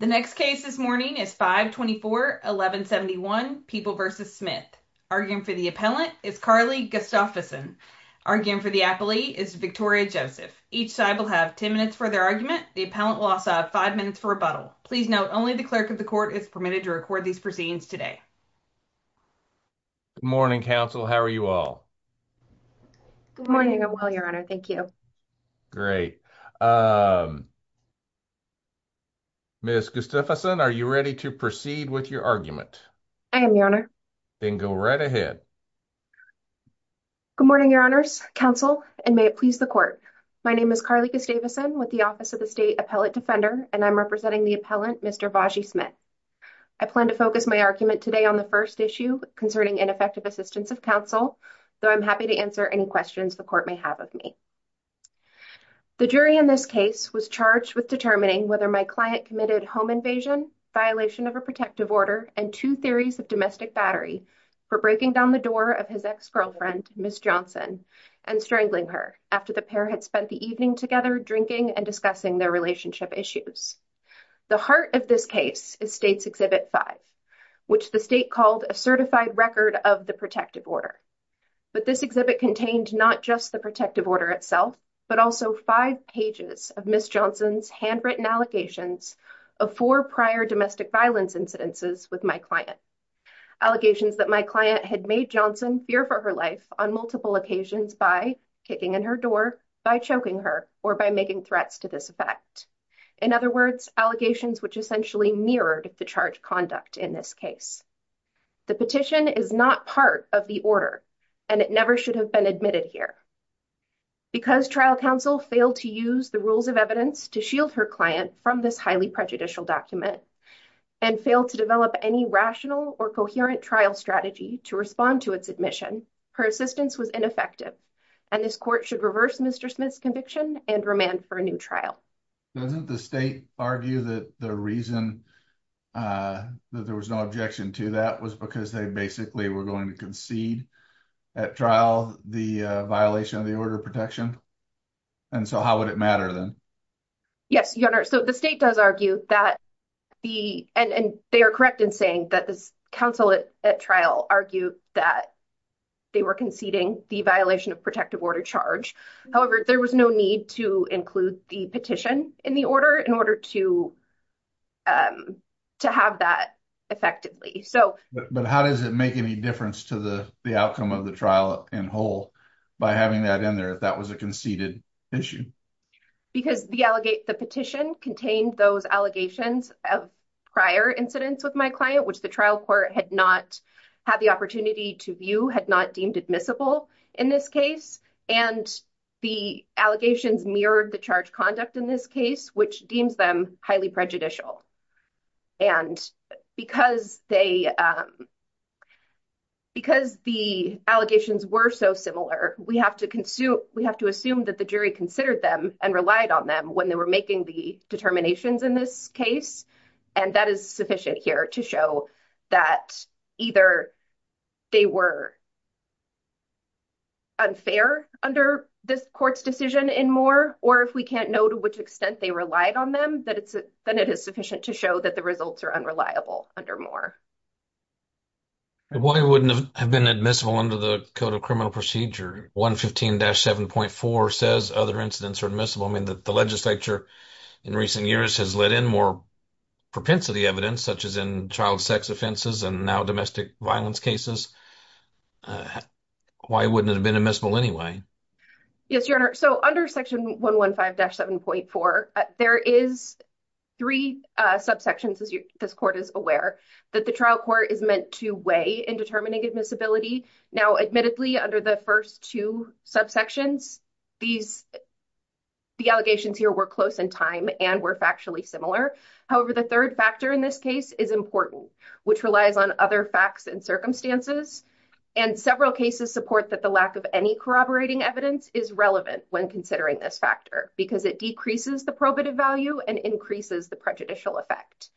The next case this morning is 5-24-1171, People v. Smith. Arguing for the appellant is Carly Gustafsson. Arguing for the appellee is Victoria Joseph. Each side will have 10 minutes for their argument. The appellant will also have 5 minutes for rebuttal. Please note, only the clerk of the court is permitted to record these proceedings today. Good morning, counsel. How are you all? Good morning, I'm well, your honor. Thank you. Great. Ms. Gustafsson, are you ready to proceed with your argument? I am, your honor. Then go right ahead. Good morning, your honors, counsel, and may it please the court. My name is Carly Gustafsson with the Office of the State Appellate Defender, and I'm representing the appellant, Mr. Bajie Smith. I plan to focus my argument today on the first issue concerning ineffective assistance of counsel, though I'm happy to answer any questions the court may have of me. The jury in this case was charged with determining whether my client committed home invasion, violation of a protective order, and two theories of domestic battery for breaking down the door of his ex-girlfriend, Ms. Johnson, and strangling her after the pair had spent the evening together drinking and discussing their relationship issues. The heart of this case is State's Exhibit 5, which the state called a certified record of the protective order. But this exhibit contained not just the protective order itself, but also five pages of Ms. Johnson's handwritten allegations of four prior domestic violence incidences with my client. Allegations that my client had made Johnson fear for her life on multiple occasions by kicking in her door, by choking her, or by making threats to this effect. In other words, allegations which essentially mirrored the charged conduct in this case. The petition is not part of the order, and it never should have been admitted here. Because trial counsel failed to use the rules of evidence to shield her client from this highly prejudicial document, and failed to develop any rational or coherent trial strategy to respond to its admission, her assistance was ineffective, and this court should reverse Mr. Smith's conviction and remand for a new trial. Doesn't the state argue that the reason that there was no objection to that was because they basically were going to concede at trial the violation of the order of protection? And so how would it matter then? Yes, your honor. So the state does argue that the, and they are correct in saying that this counsel at trial argued that they were conceding the violation of protective order charge. However, there was no need to include the petition in the order in order to have that effectively. So... But how does it make any difference to the outcome of the trial in whole by having that in there, if that was a conceded issue? Because the petition contained those allegations of prior incidents with my client, which the trial court had not had the opportunity to view, had not deemed admissible in this case. And the allegations mirrored the charge conduct in this case, which deems them highly prejudicial. And because the allegations were so similar, we have to assume that the jury considered them and relied on them when they were making the determinations in this case. And that is sufficient here to show that either they were unfair under this court's decision in Moore, or if we can't know to which extent they relied on them, then it is sufficient to show that the results are unreliable under Moore. Why wouldn't it have been admissible under the Code of Criminal Procedure? 115-7.4 says other incidents are admissible. I mean, the legislature in recent years has let in more propensity evidence, such as in child sex offenses and now domestic violence cases. Why wouldn't it have been admissible anyway? Yes, Your Honor. So under section 115-7.4, there is three subsections, as this court is aware, that the trial court is meant to weigh in determining admissibility. Now, admittedly, under the first two subsections, the allegations here were close in time and were factually similar. However, the third factor in this case is important, which relies on other facts and circumstances. And several cases support that the lack of any corroborating evidence is relevant when considering this factor because it decreases the probative value and increases the prejudicial effect.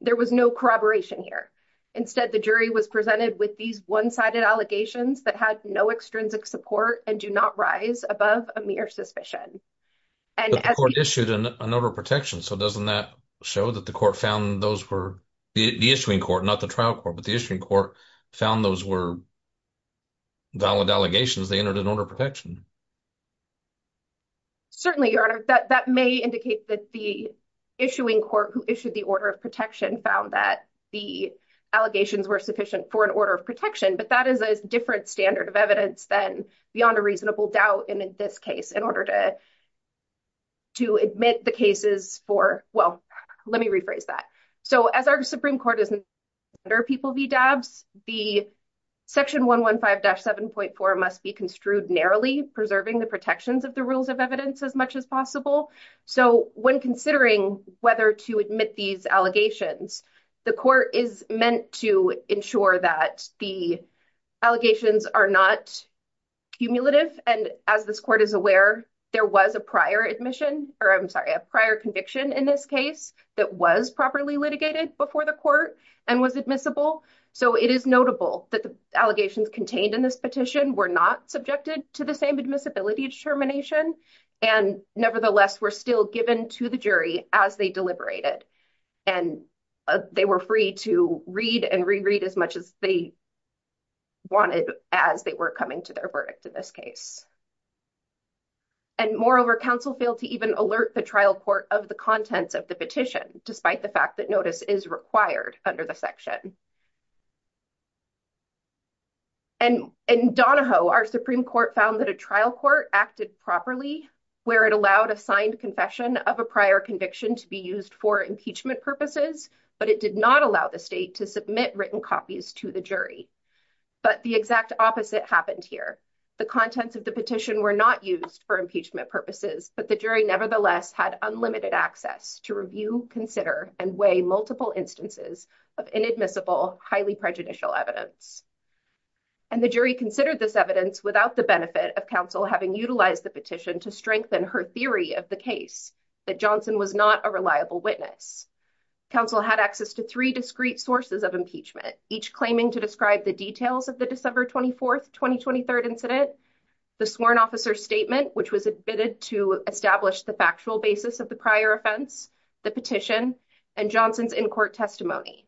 There was no corroboration here. Instead, the jury was presented with these one-sided allegations that had no extrinsic support and do not rise above a mere suspicion. But the court issued an order of protection, so doesn't that show that the court found those were, the issuing court, not the trial court, but the issuing court found those were valid allegations, they entered an order of protection. Certainly, Your Honor, that may indicate that the issuing court who issued the order of protection found that the allegations were sufficient for an order of protection, but that is a different standard of evidence than beyond a reasonable doubt in this case in order to admit the cases for, well, let me rephrase that. So as our Supreme Court is under people v. Dabbs, the section 115-7.4 must be construed narrowly preserving the protections of the rules of evidence as much as possible. So when considering whether to admit these allegations, the court is meant to ensure that the allegations are not cumulative. And as this court is aware, there was a prior admission, or I'm sorry, a prior conviction in this case that was properly litigated before the court and was admissible. So it is notable that the allegations contained in this petition were not subjected to the same admissibility determination and nevertheless were still given to the jury as they deliberated. And they were free to read and reread as much as they wanted as they were coming to their verdict in this case. And moreover, counsel failed to even alert the trial court of the contents of the petition, despite the fact that notice is required under the section. And in Donahoe, our Supreme Court found that a trial court acted properly where it allowed a signed confession of a prior conviction to be used for impeachment purposes, but it did not allow the state to submit written copies to the jury. But the exact opposite happened here. The contents of the petition were not used for impeachment purposes, but the jury nevertheless had unlimited access to review, consider, and weigh multiple instances of inadmissible, highly prejudicial evidence. And the jury considered this evidence without the benefit of counsel having utilized the petition to strengthen her theory of the case, that Johnson was not a reliable witness. Counsel had access to three discrete sources of impeachment, each claiming to describe the details of the December 24th, 2023 incident, the sworn officer statement, which was admitted to establish the factual basis of the prior offense, the petition, and Johnson's in-court testimony.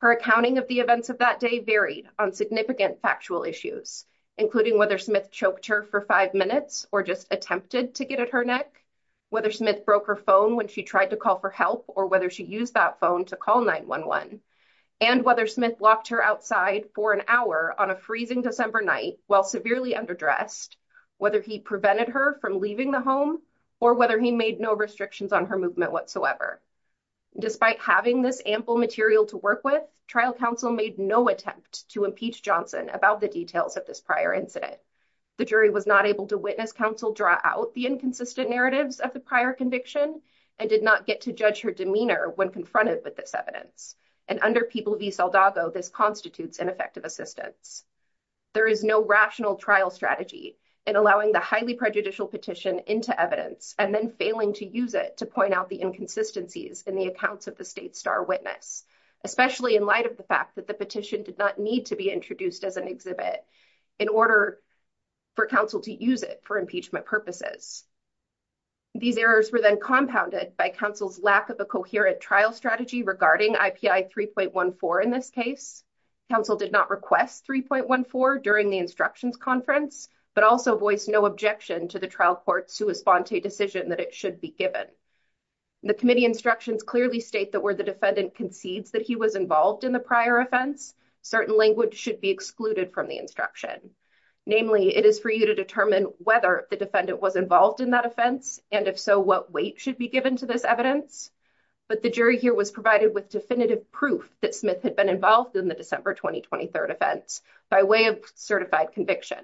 Her accounting of the events of that day varied on significant factual issues, including whether Smith choked her for five minutes or just attempted to get at her neck, whether Smith broke her phone when she tried to call for help or whether she used that phone to call 911, and whether Smith locked her outside for an hour on a freezing December night while severely underdressed, whether he prevented her from leaving the home or whether he made no restrictions on her movement whatsoever. Despite having this ample material to work with, trial counsel made no attempt to impeach Johnson about the details of this prior incident. The jury was not able to witness counsel draw out the inconsistent narratives of the prior conviction and did not get to judge her demeanor when confronted with this evidence. And under People v. Saldago, this constitutes ineffective assistance. There is no rational trial strategy in allowing the highly prejudicial petition into evidence and then failing to use it to point out the inconsistencies in the accounts of the state star witness, especially in light of the fact that the petition did not need to be introduced as an exhibit in order for counsel to use it for impeachment purposes. These errors were then compounded by counsel's lack of a coherent trial strategy regarding IPI 3.14 in this case. Counsel did not request 3.14 during the instructions conference, but also voiced no objection to the trial court's sua sponte decision that it should be given. The committee instructions clearly state that where the defendant concedes that he was involved in the prior offense, certain language should be excluded from the instruction. Namely, it is for you to determine whether the defendant was involved in that offense, and if so, what weight should be given to this evidence. But the jury here was provided with definitive proof that Smith had been involved in the December 2023 offense by way of certified conviction.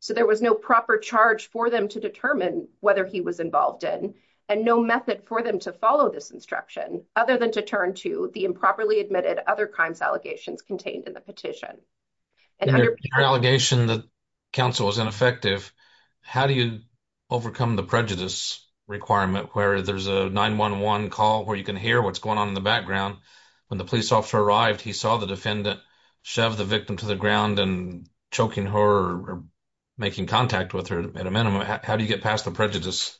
So there was no proper charge for them to determine whether he was involved in and no method for them to follow this instruction, other than to turn to the improperly admitted other crimes allegations contained in the petition. And under your allegation, the counsel was ineffective. How do you overcome the prejudice requirement where there's a 911 call where you can hear what's going on in the background? When the police officer arrived, he saw the defendant shove the victim to the ground and choking her or making contact with her at a minimum. How do you get past the prejudice?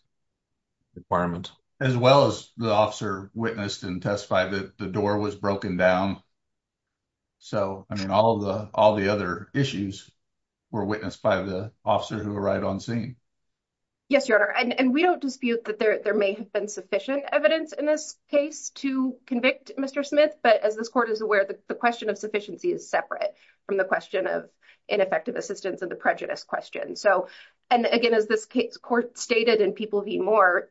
As well as the officer witnessed and testified that the door was broken down. So I mean, all the other issues were witnessed by the officer who arrived on scene. Yes, Your Honor, and we don't dispute that there may have been sufficient evidence in this case to convict Mr. Smith. But as this court is aware, the question of sufficiency is separate from the question of ineffective assistance and the prejudice question. So and again, as this case court stated in People v. Moore,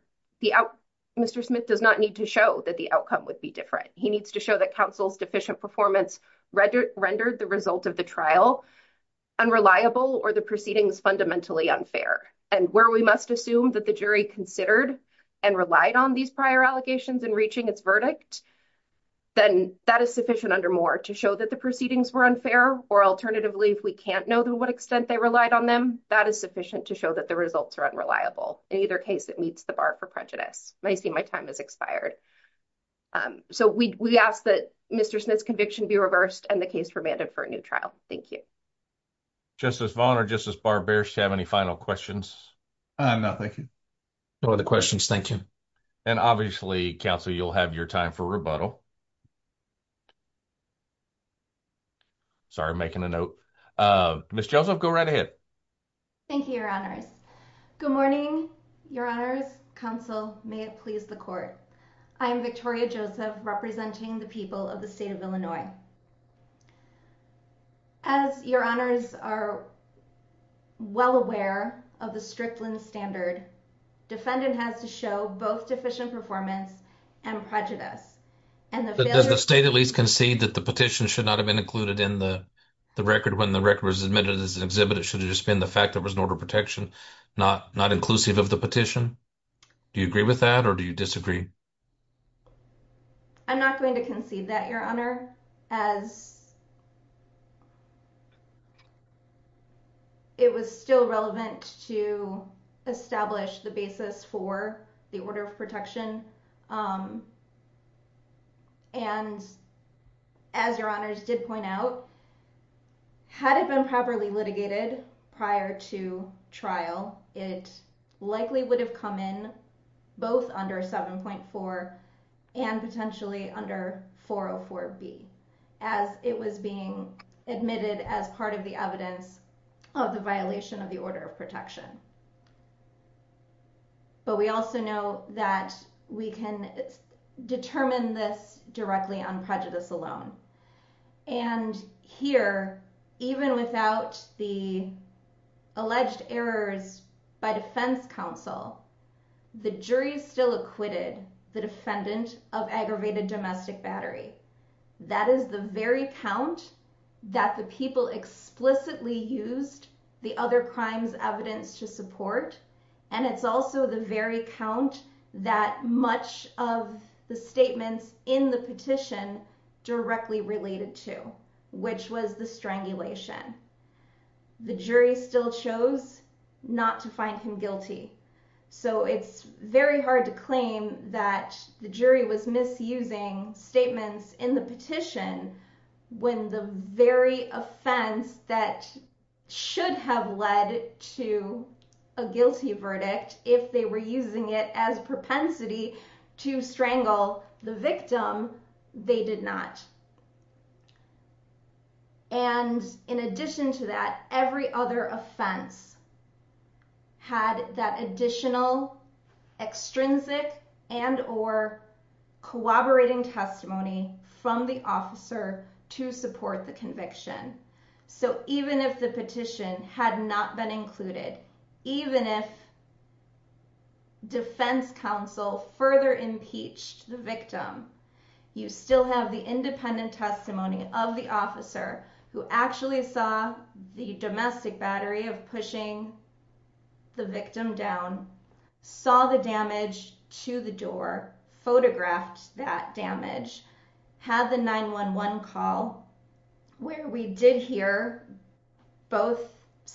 Mr. Smith does not need to show that the outcome would be different. He needs to show that counsel's deficient performance rendered the result of the trial unreliable or the proceedings fundamentally unfair. And where we must assume that the jury considered and relied on these prior allegations in reaching its verdict, then that is sufficient under Moore to show that the proceedings were unfair or alternatively, if we can't know to what extent they relied on them, that is sufficient to show that the results are unreliable. In either case, it meets the bar for prejudice. I see my time has expired. So we ask that Mr. Smith's conviction be reversed and the case remanded for a new trial. Thank you. Justice Vaughn or Justice Barber, do you have any final questions? No, thank you. No other questions, thank you. And obviously, counsel, you'll have your time for rebuttal. Sorry, making a note. Ms. Joseph, go right ahead. Thank you, Your Honors. Good morning, Your Honors. Counsel, may it please the court. I am Victoria Joseph, representing the people of the state of Illinois. As Your Honors are well aware of the Strickland standard, defendant has to show both deficient performance and prejudice. Does the state at least concede that the petition should not have been included in the record when the record was admitted as an exhibit? It should have just been the fact there was an order of protection, not inclusive of the petition. Do you agree with that or do you disagree? I'm not going to concede that, Your Honor, as it was still relevant to establish the basis for the order of protection. And as Your Honors did point out, had it been properly litigated prior to trial, it likely would have come in both under 7.4 and potentially under 404B as it was being admitted as part of the evidence of the violation of the order of protection. But we also know that we can determine this directly on prejudice alone. And here, even without the alleged errors by defense counsel, the jury still acquitted the defendant of aggravated domestic battery. That is the very count that the people explicitly used the other crimes evidence to support. And it's also the very count that much of the statements in the petition directly related to, which was the strangulation. The jury still chose not to find him guilty. So it's very hard to claim that the jury was misusing statements in the petition when the very offense that should have led to a guilty verdict, if they were using it as propensity to strangle the victim, they did not. And in addition to that, every other offense had that additional extrinsic and or collaborating testimony from the officer to support the conviction. So even if the petition had not been included, even if defense counsel further impeached the victim, you still have the independent testimony of the officer who actually saw the domestic battery of pushing the victim down, saw the damage to the door, photographed that damage, had the 911 call where we did hear both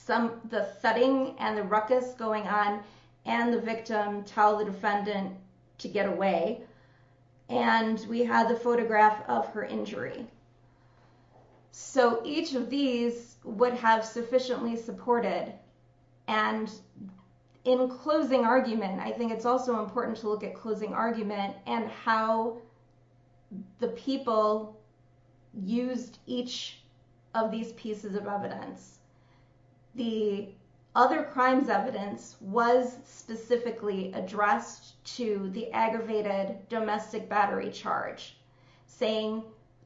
the setting and the ruckus going on and the victim tell the defendant to get away. And we had the photograph of her injury. So each of these would have sufficiently supported. And in closing argument, I think it's also important to look at closing argument and how the people used each of these pieces of evidence. The other crimes evidence was specifically addressed to the aggravated domestic battery charge. Saying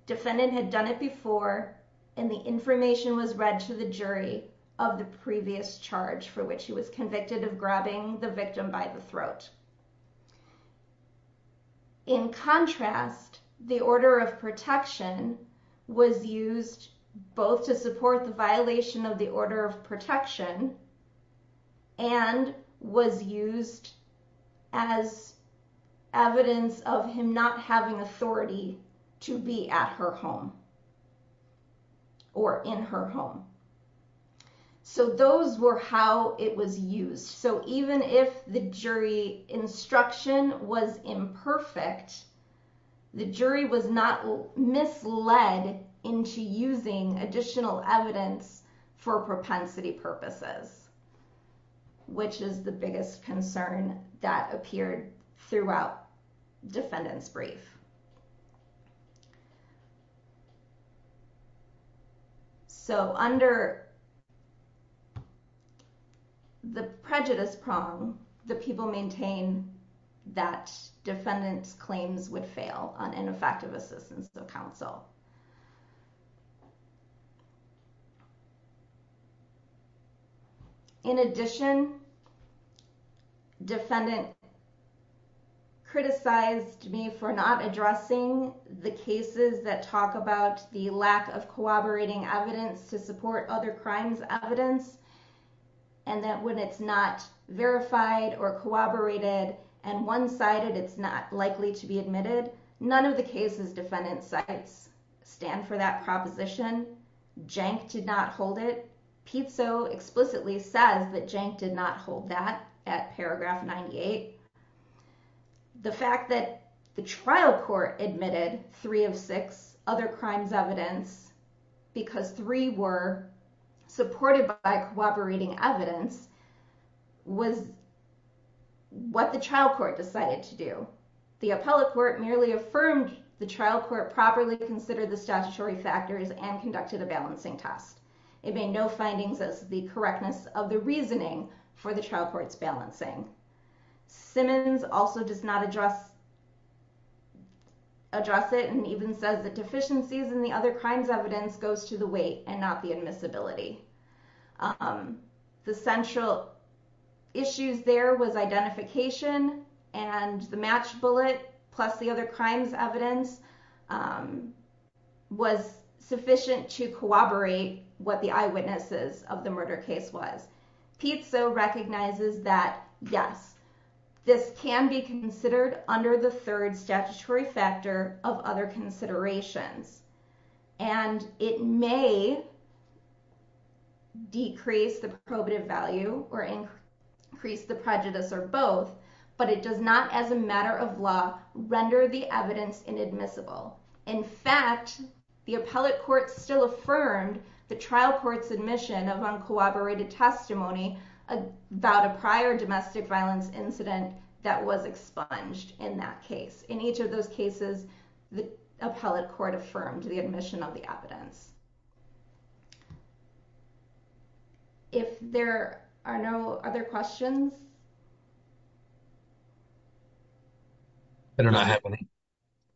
defendant had done it before and the information was read to the jury of the previous charge for which he was convicted of grabbing the victim by the throat. In contrast, the order of protection was used both to support the violation of the order of protection and was used as evidence of him not having authority to be at her home or in her home. So those were how it was used. So even if the jury instruction was imperfect, the jury was not misled into using additional evidence for propensity purposes, which is the biggest concern that appeared throughout defendant's brief. So under the prejudice prong, the people maintain that defendant's claims would fail on ineffective assistance of counsel. In addition, defendant criticized me for not addressing the cases that talk about the lack of corroborating evidence to support other crimes evidence and that when it's not verified or corroborated and one-sided, it's not likely to be admitted. None of the cases defendant cites stand for that proposition. Jank did not hold it. Pizzo explicitly says that Jank did not hold it. At paragraph 98, the fact that the trial court admitted three of six other crimes evidence because three were supported by corroborating evidence was what the trial court decided to do. The appellate court merely affirmed the trial court properly considered the statutory factors and conducted a balancing test. It made no findings as the correctness of the reasoning for the trial court's balancing. Simmons also does not address it and even says the deficiencies in the other crimes evidence goes to the weight and not the admissibility. The central issues there was identification and the match bullet plus the other crimes evidence was sufficient to corroborate what the eyewitnesses of the murder case was. Pizzo recognizes that yes, this can be considered under the third statutory factor of other considerations and it may decrease the probative value or increase the prejudice or both but it does not as a matter of law render the evidence inadmissible. In fact, the appellate court still affirmed the trial court's admission of uncooperated testimony about a prior domestic violence incident that was expunged in that case. In each of those cases, the appellate court affirmed the admission of the evidence. If there are no other questions.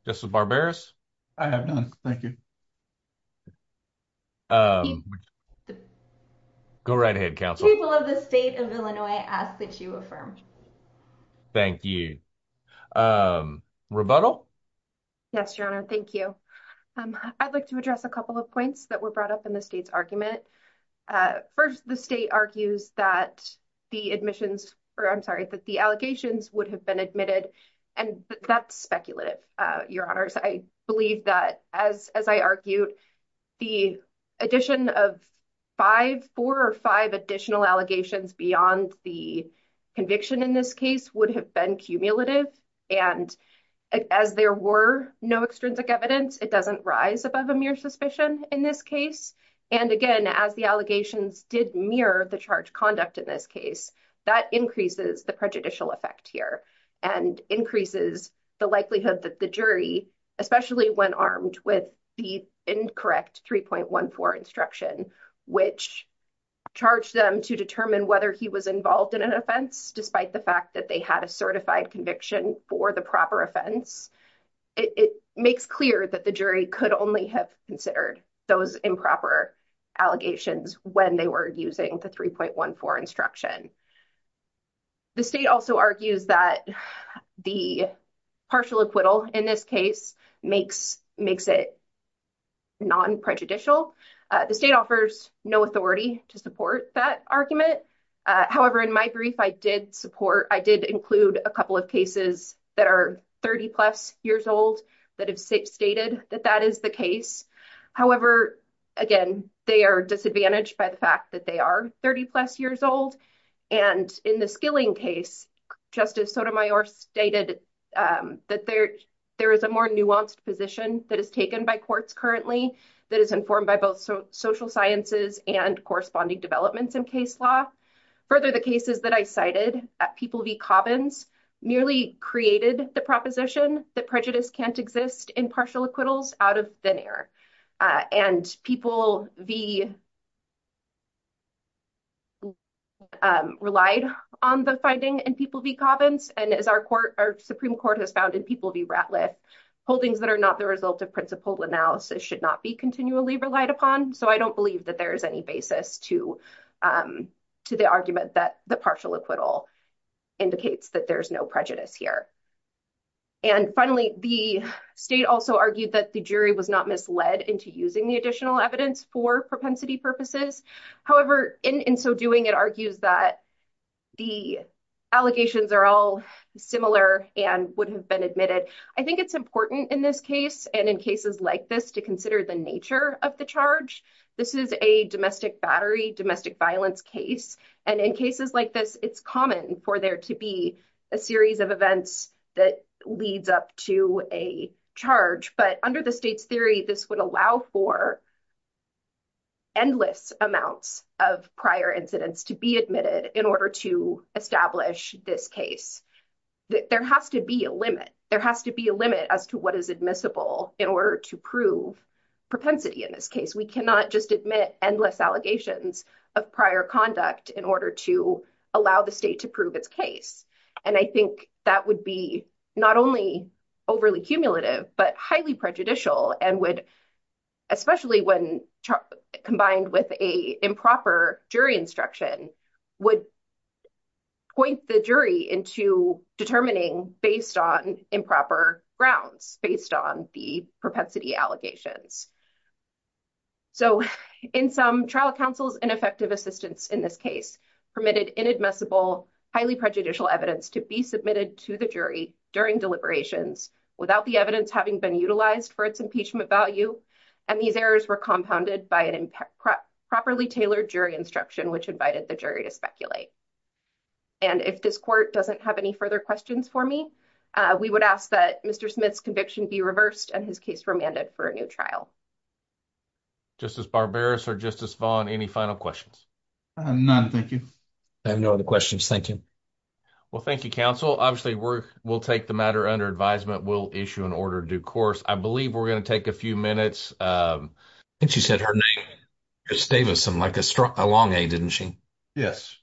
Justice Barberis? I have none, thank you. Go right ahead, counsel. People of the state of Illinois ask that you affirm. Thank you. Rebuttal? Yes, your honor, thank you. I'd like to address a couple of points that were brought up in the state's argument. First, the state argues that the admissions, or I'm sorry, that the allegations would have been admitted and that's speculative, your honors. I believe that as I argued, the addition of five, four or five additional allegations beyond the conviction in this case would have been cumulative. And as there were no extrinsic evidence, it doesn't rise above a mere suspicion in this case. And again, as the allegations did mirror the charge conduct in this case, that increases the prejudicial effect here and increases the likelihood that the jury, especially when armed with the incorrect 3.14 instruction, which charged them to determine whether he was involved in an offense, despite the fact that they had a certified conviction for the proper offense, it makes clear that the jury could only have considered those improper allegations when they were using the 3.14 instruction. The state also argues that the partial acquittal in this case makes it non-prejudicial. The state offers no authority to support that argument. However, in my brief, I did support, I did include a couple of cases that are 30 plus years old that have stated that that is the case. However, again, they are disadvantaged by the fact that they are 30 plus years old. And in the Skilling case, Justice Sotomayor stated that there is a more nuanced position that is taken by courts currently, that is informed by both social sciences and corresponding developments in case law. Further, the cases that I cited at People v. Cobbins nearly created the proposition that prejudice can't exist in partial acquittals out of thin air. And People v. relied on the finding in People v. Cobbins. And as our Supreme Court has found in People v. Ratliff, holdings that are not the result of principled analysis should not be continually relied upon. So I don't believe that there is any basis to the argument that the partial acquittal indicates that there's no prejudice here. And finally, the state also argued that the jury was not misled into using the additional evidence for propensity purposes. However, in so doing, it argues that the allegations are all similar and would have been admitted. I think it's important in this case and in cases like this to consider the nature of the charge. This is a domestic battery, domestic violence case. And in cases like this, it's common for there to be a series of events that leads up to a charge. But under the state's theory, this would allow for endless amounts of prior incidents to be admitted in order to establish this case. There has to be a limit. There has to be a limit as to what is admissible in order to prove propensity in this case. We cannot just admit endless allegations of prior conduct in order to allow the state to prove its case. And I think that would be not only overly cumulative, but highly prejudicial and would, especially when combined with a improper jury instruction, would point the jury into determining based on improper grounds, based on the propensity allegations. So in some trial counsels, ineffective assistance in this case permitted inadmissible, highly prejudicial evidence to be submitted to the jury during deliberations without the evidence having been utilized for its impeachment value. And these errors were compounded by an improperly tailored jury instruction, which invited the jury to speculate. And if this court doesn't have any further questions for me, we would ask that Mr. Smith's conviction be reversed and his case remanded for a new trial. Justice Barberis or Justice Vaughn, any final questions? None, thank you. I have no other questions. Thank you. Well, thank you, counsel. Obviously, we'll take the matter under advisement. We'll issue an order due course. I believe we're going to take a few minutes. I think she said her name, Ms. Davison, like a long A, didn't she? Yes.